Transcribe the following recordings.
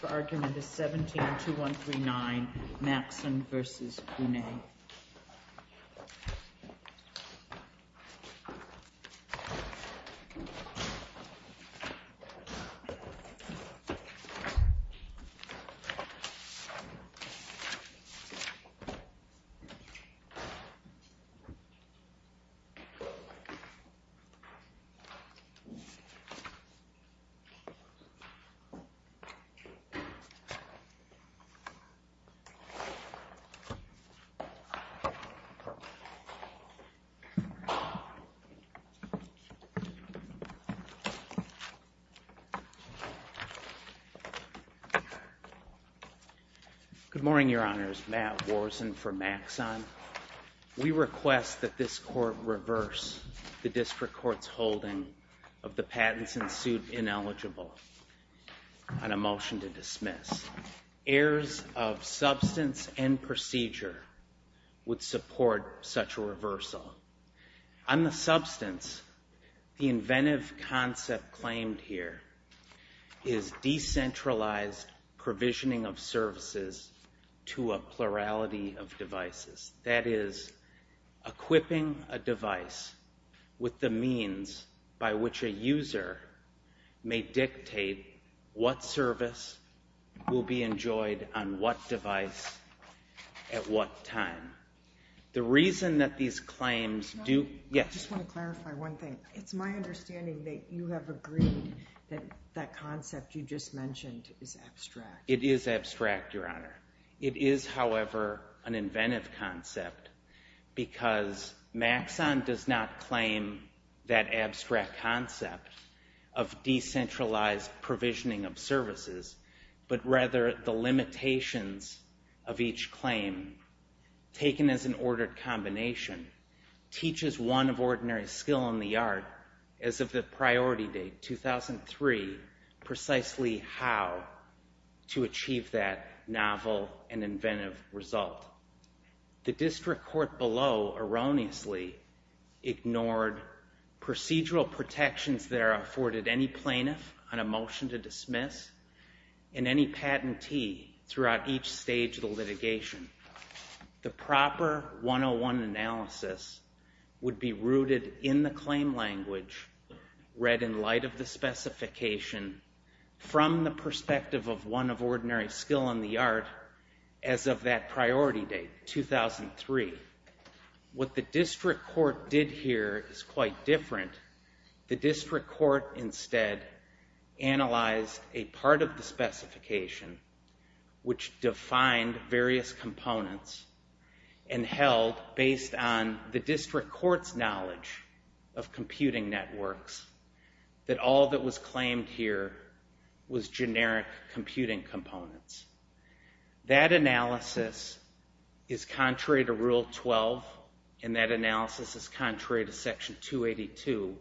The argument is 17-2139, Maxon v. Funai. Good morning, Your Honors. Matt Worzen for Maxon. We request that this Court reverse the District Court's holding of the patents in suit ineligible on a motion to dismiss. Heirs of substance and procedure would support such a reversal. On the substance, the inventive concept claimed here is decentralized provisioning of services to a plurality of devices, that is, equipping a device with the means by which a user may dictate what service will be enjoyed on what device at what time. The reason that these claims do— Your Honor, I just want to clarify one thing. It's my understanding that you have agreed that that concept you just mentioned is abstract. It is abstract, Your Honor. It is, however, an inventive concept because Maxon does not claim that abstract concept of decentralized provisioning of services, but rather the limitations of each claim taken as an ordered combination teaches one of ordinary skill in the art, as of the priority date, 2003, precisely how to achieve that novel and inventive result. The District Court below erroneously ignored procedural protections that are afforded any plaintiff on a motion to dismiss and any patentee throughout each stage of the litigation. The proper 101 analysis would be rooted in the claim language read in light of the specification from the perspective of one of ordinary skill in the art as of that priority date, 2003. What the District Court did here is quite different. The District Court instead analyzed a part of the specification which defined various components and held, based on the District Court's knowledge of computing networks, that all that was claimed here was generic computing components. That analysis is contrary to Rule 12, and that analysis is contrary to Section 282,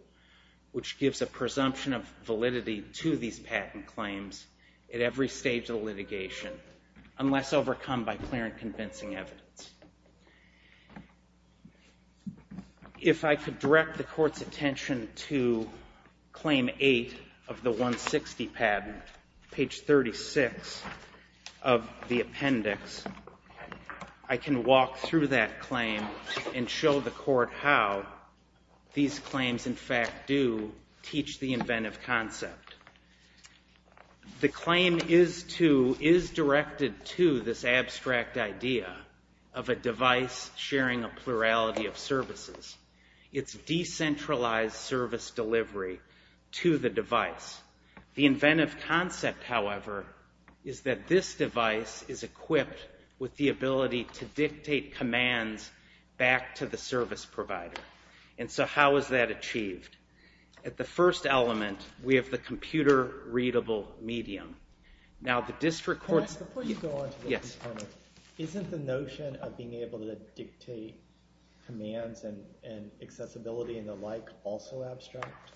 which gives a presumption of validity to these patent claims at every stage of litigation unless overcome by clear and convincing evidence. If I could direct the Court's attention to Claim 8 of the 160 patent, page 36 of the appendix, I can walk through that claim and show the Court how these claims in fact do teach the inventive concept. The claim is directed to this abstract idea of a device sharing a plurality of services. It's decentralized service delivery to the device. The inventive concept, however, is that this device is equipped with the ability to dictate commands back to the service provider. And so how is that achieved? At the first element, we have the computer-readable medium. Now the District Court's... Can I ask, before you go on to the next point, isn't the notion of being able to dictate commands and accessibility and the like also abstract?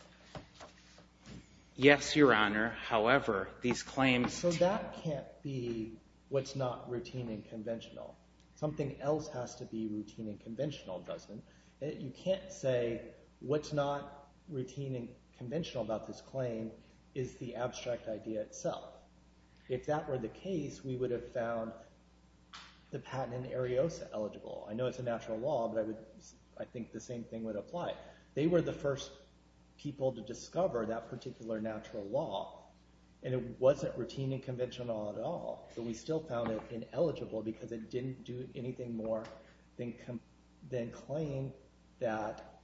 Yes, Your Honor, however, these claims... So that can't be what's not routine and conventional. Something else has to be routine and conventional, doesn't it? You can't say what's not routine and conventional about this claim is the abstract idea itself. If that were the case, we would have found the patent in Ariosa eligible. I know it's a natural law, but I think the same thing would apply. They were the first people to discover that particular natural law, and it wasn't routine and conventional at all, but we still found it ineligible because it didn't do anything more than claim that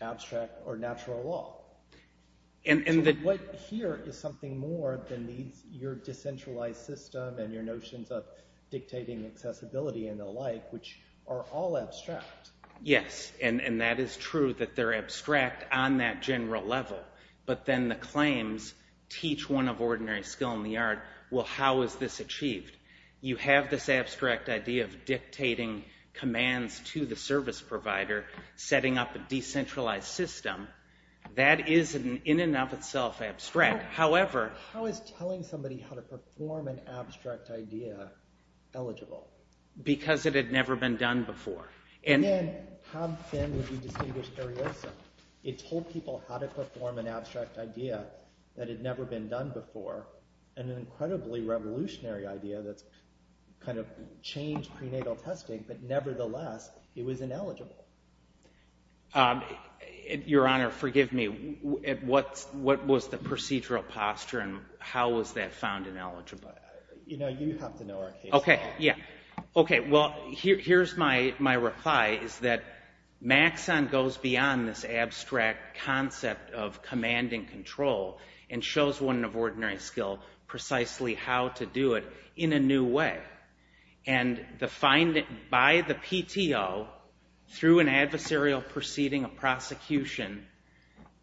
abstract or natural law. So what here is something more than your decentralized system and your notions of dictating accessibility and the like, which are all abstract? Yes, and that is true that they're abstract on that general level, but then the claims teach one of ordinary skill in the art, well, how is this achieved? You have this abstract idea of dictating commands to the service provider, setting up a decentralized system. That is in and of itself abstract, however... How is telling somebody how to perform an abstract idea eligible? Because it had never been done before. And then how then would you distinguish Ariosa? It told people how to perform an abstract idea that had never been done before, an incredibly revolutionary idea that's kind of changed prenatal testing, but nevertheless, it was ineligible. Your Honor, forgive me, what was the procedural posture and how was that found ineligible? You know, you have to know our case better. Okay, yeah. Okay, well, here's my reply, is that Maxon goes beyond this abstract concept of command and control and shows one of ordinary skill precisely how to do it in a new way. And by the PTO, through an adversarial proceeding, a prosecution,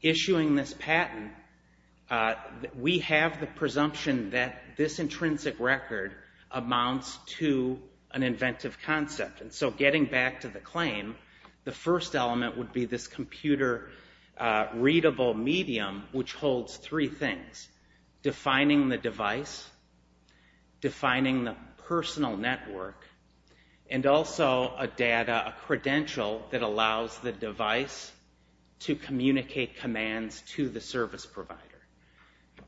issuing this patent, we have the presumption that this intrinsic record amounts to an inventive concept, and so getting back to the claim, the first element would be this computer-readable medium, which holds three things, defining the device, defining the personal network, and also a data, a credential that allows the device to communicate commands to the service provider.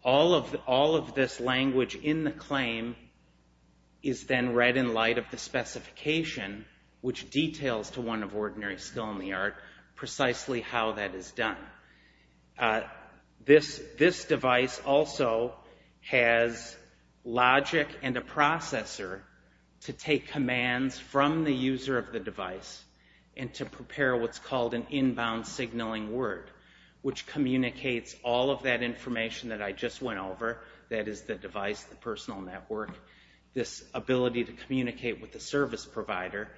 All of this language in the claim is then read in light of the specification, which details to one of ordinary skill in the art precisely how that is done. This device also has logic and a processor to take commands from the user of the device and to prepare what's called an inbound signaling word, which communicates all of that information that I just went over, that is the device, the personal network, this ability to communicate with the service provider,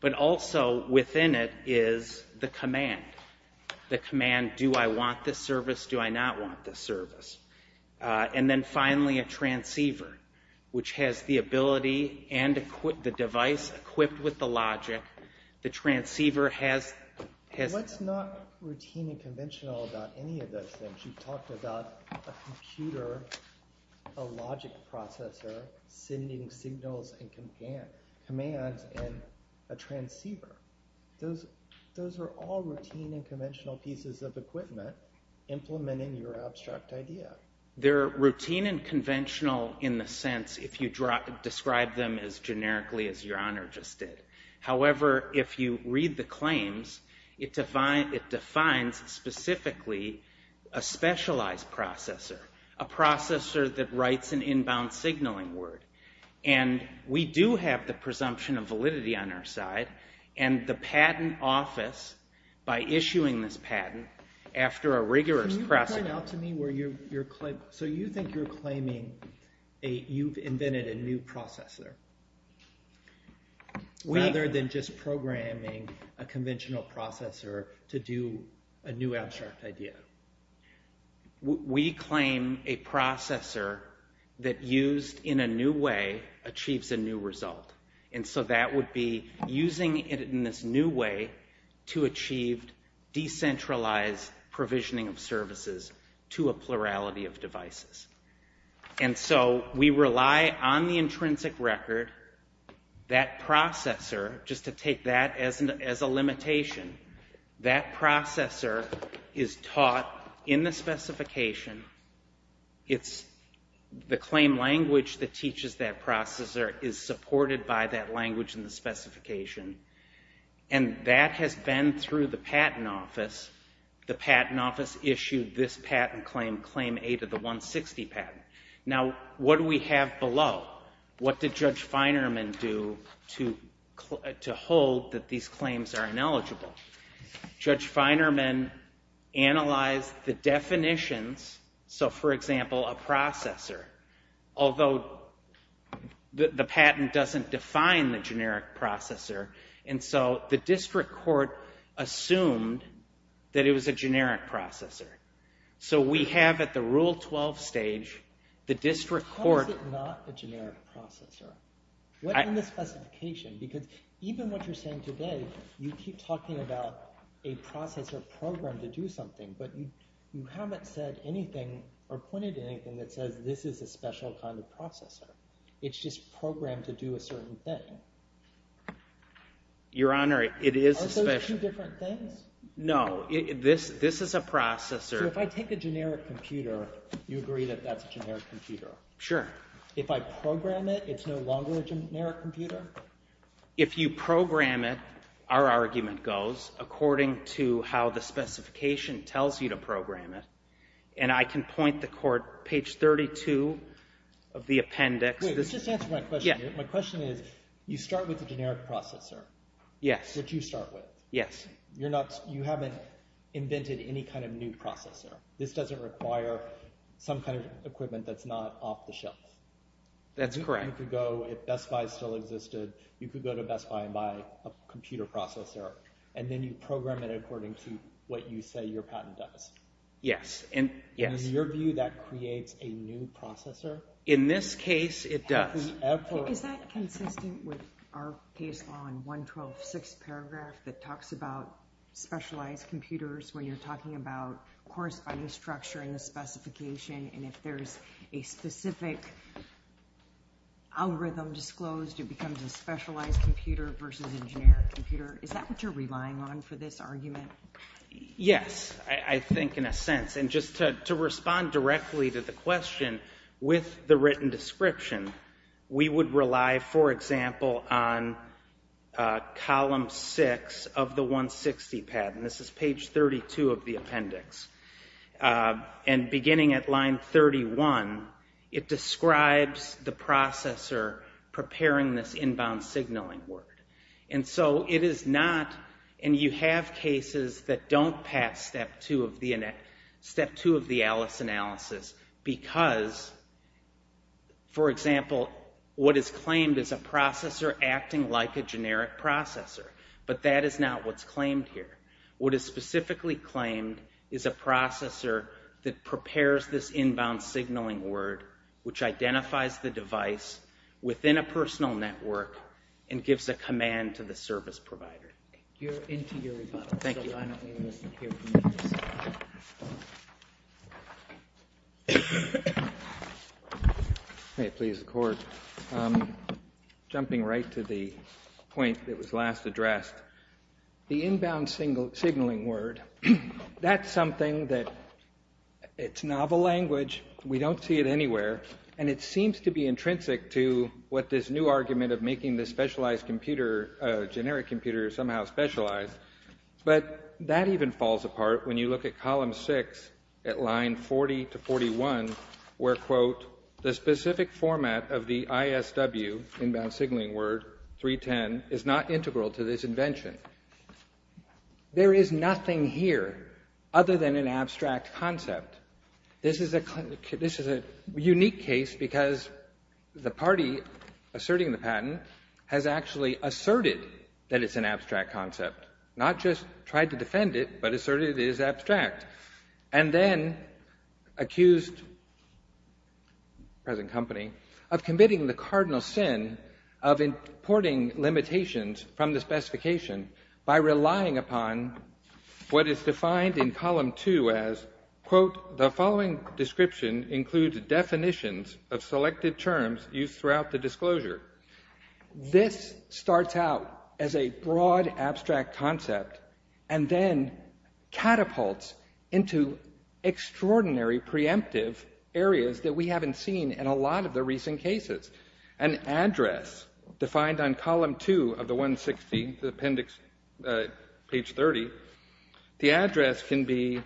but also within it is the command. The command, do I want this service, do I not want this service? And then finally, a transceiver, which has the ability and the device equipped with the transceiver has... What's not routine and conventional about any of those things? You talked about a computer, a logic processor sending signals and commands and a transceiver. Those are all routine and conventional pieces of equipment implementing your abstract idea. They're routine and conventional in the sense if you describe them as generically as your read the claims, it defines specifically a specialized processor, a processor that writes an inbound signaling word. We do have the presumption of validity on our side and the patent office, by issuing this patent, after a rigorous process... Can you point out to me where you're claiming, so you think you're claiming you've invented a new processor, rather than just programming a conventional processor to do a new abstract idea? We claim a processor that used in a new way achieves a new result. And so that would be using it in this new way to achieve decentralized provisioning of services to a plurality of devices. And so we rely on the intrinsic record. That processor, just to take that as a limitation, that processor is taught in the specification. The claim language that teaches that processor is supported by that language in the specification. And that has been through the patent office. The patent office issued this patent claim, Claim A to the 160 Patent. Now what do we have below? What did Judge Feinerman do to hold that these claims are ineligible? Judge Feinerman analyzed the definitions, so for example, a processor. Although the patent doesn't define the generic processor. And so the district court assumed that it was a generic processor. So we have at the Rule 12 stage, the district court... How is it not a generic processor? What's in the specification? Because even what you're saying today, you keep talking about a processor programmed to do something, but you haven't said anything or pointed to anything that says this is a special kind of processor. It's just programmed to do a certain thing. Your Honor, it is a special... Are those two different things? No, this is a processor... So if I take a generic computer, you agree that that's a generic computer? Sure. If I program it, it's no longer a generic computer? If you program it, our argument goes, according to how the specification tells you to program it. And I can point the court, page 32 of the appendix... Wait, just answer my question. My question is, you start with the generic processor. Yes. Which you start with. Yes. You haven't invented any kind of new processor. This doesn't require some kind of equipment that's not off the shelf. That's correct. You could go, if Best Buy still existed, you could go to Best Buy and buy a computer processor. And then you program it according to what you say your patent does. Yes. In your view, that creates a new processor? In this case, it does. Is that consistent with our case law in 112-6 paragraph that talks about specialized computers when you're talking about corresponding structure in the specification? And if there's a specific algorithm disclosed, it becomes a specialized computer versus a generic computer. Is that what you're relying on for this argument? Yes, I think in a sense. And just to respond directly to the question with the written description, we would rely, for example, on column 6 of the 160 patent. This is page 32 of the appendix. And beginning at line 31, it describes the processor preparing this inbound signaling word. And so it is not, and you have cases that don't pass step 2 of the Alice analysis because, for example, what is claimed is a processor acting like a generic processor. But that is not what's claimed here. What is specifically claimed is a processor that prepares this inbound signaling word which identifies the device within a personal network and gives a command to the service provider. You're into your rebuttal. Thank you. May I please accord? Jumping right to the point that was last addressed, the inbound signaling word, that's something that, it's novel language, we don't see it anywhere, and it seems to be intrinsic to what this new argument of making this specialized computer, generic computer somehow specialized. But that even falls apart when you look at column 6 at line 40 to 41, where, quote, the specific format of the ISW, inbound signaling word, 310, is not integral to this invention. There is nothing here other than an abstract concept. This is a unique case because the party asserting the patent has actually asserted that it's an abstract concept. Not just tried to defend it, but asserted it is abstract. And then accused, present company, of committing the cardinal sin of importing limitations from the specification by relying upon what is defined in column 2 as, quote, the following description includes definitions of selected terms used throughout the disclosure. This starts out as a broad abstract concept and then catapults into extraordinary preemptive areas that we haven't seen in a lot of the recent cases. An address defined on column 2 of the 160, the appendix, page 30, the address can be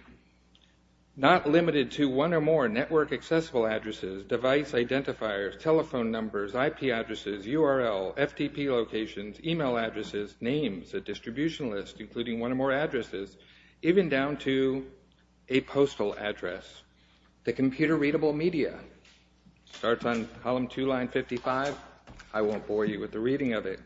not limited to one or more network accessible addresses, device identifiers, telephone numbers, IP addresses, URL, FTP locations, email addresses, names, a distribution list, including one or more addresses, even down to a postal address. The computer-readable media. Starts on column 2, line 55. I won't bore you with the reading of it.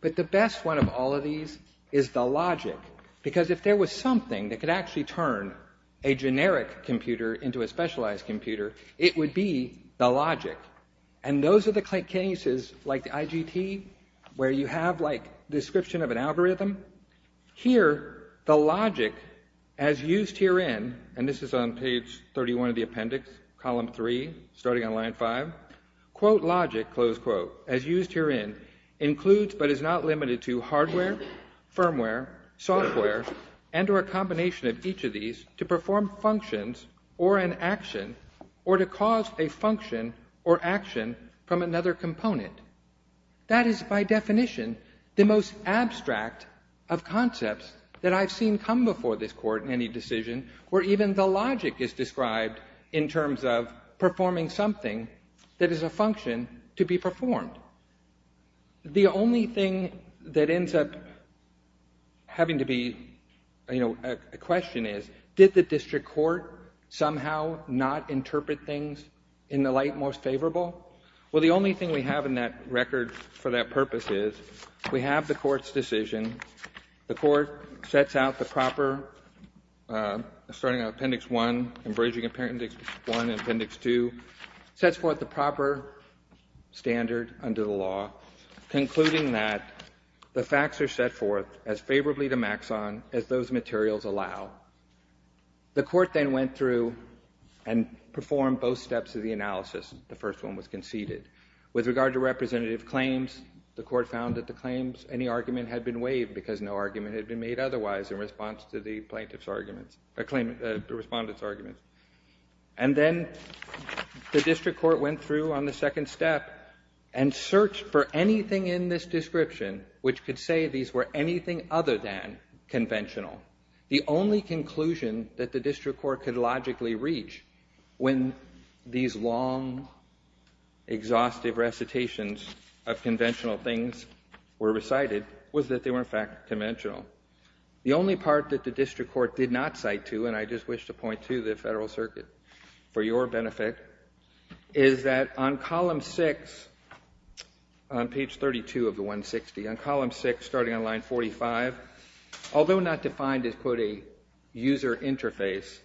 But the best one of all of these is the logic. Because if there was something that could actually turn a generic computer into a specialized computer, it would be the logic. And those are the cases, like the IGT, where you have, like, description of an algorithm. Here, the logic as used herein, and this is on page 31 of the appendix, column 3, starting on line 5. Quote logic, close quote, as used herein, includes but is not limited to hardware, firmware, software, and or a combination of each of these to perform functions or an action or to cause a function or action from another component. That is, by definition, the most abstract of concepts that I've seen come before this court in any decision where even the logic is described in terms of performing something that is a function to be performed. The only thing that ends up having to be, you know, a question is, did the district court somehow not interpret things in the light most favorable? Well, the only thing we have in that record for that purpose is, we have the court's decision. The court sets out the proper, starting on appendix 1, and bridging appendix 1 and appendix 2, sets forth the proper standard under the law, concluding that the facts are set forth as favorably to Maxon as those materials allow. The court then went through and performed both steps of the analysis. The first one was conceded. With regard to representative claims, the court found that the claims, any argument had been waived because no argument had been made otherwise in response to the plaintiff's arguments, the respondent's arguments. And then the district court went through on the second step and searched for anything in this description which could say these were anything other than conventional. The only conclusion that the district court could logically reach when these long, exhaustive recitations of conventional things were recited was that they were, in fact, conventional. The only part that the district court did not cite to, and I just wish to point to the Federal Circuit for your benefit, is that on column 6, on page 32 of the 160, on column 6 starting on line 45, although not defined as, quote, a user interface,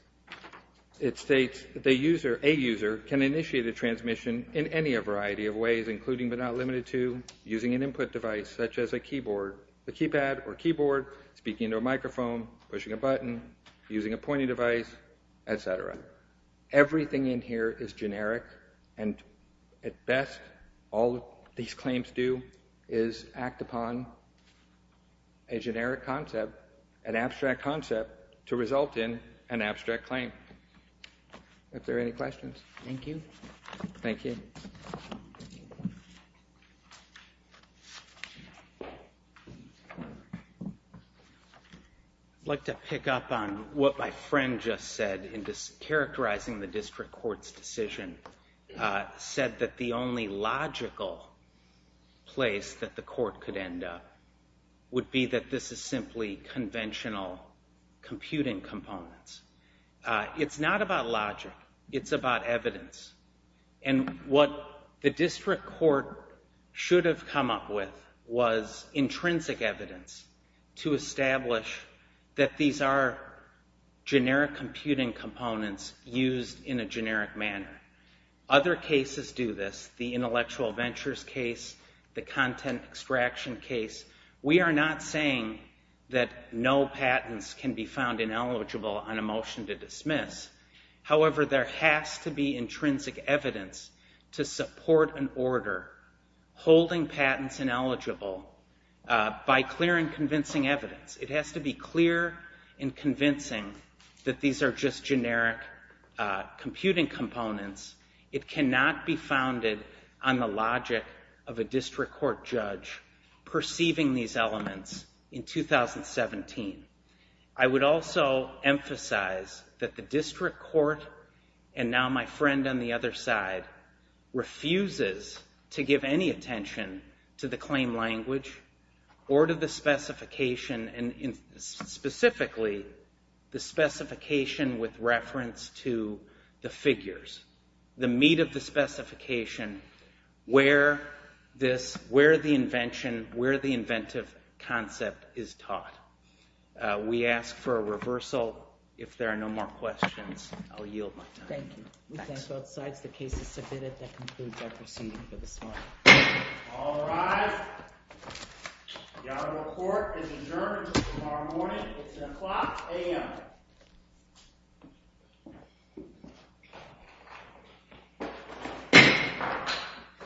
it states that a user can initiate a transmission in any variety of ways, including but not limited to using an input device such as a keyboard, a keypad or keyboard, speaking into a microphone, pushing a button, using a pointing device, et cetera. Everything in here is generic, and at best all these claims do is act upon a generic concept, an abstract concept to result in an abstract claim. Are there any questions? Thank you. Thank you. I'd like to pick up on what my friend just said in characterizing the district court's decision, said that the only logical place that the court could end up would be that this is simply conventional computing components. It's not about logic. It's about evidence, and what the district court should have come up with was intrinsic evidence to establish that these are generic computing components used in a generic manner. Other cases do this, the intellectual ventures case, the content extraction case. We are not saying that no patents can be found ineligible on a motion to dismiss. However, there has to be intrinsic evidence to support an order holding patents ineligible by clear and convincing evidence. It has to be clear and convincing that these are just generic computing components. It cannot be founded on the logic of a district court judge perceiving these elements in 2017. I would also emphasize that the district court, and now my friend on the other side, refuses to give any attention to the claim language or to the specification, specifically the specification with reference to the figures, the meat of the specification, where the invention, where the inventive concept is taught. We ask for a reversal. If there are no more questions, I'll yield my time. Thank you. We thank both sides. The case is submitted. That concludes our proceeding for this morning. All rise. The honorable court is adjourned until tomorrow morning. It's at o'clock a.m.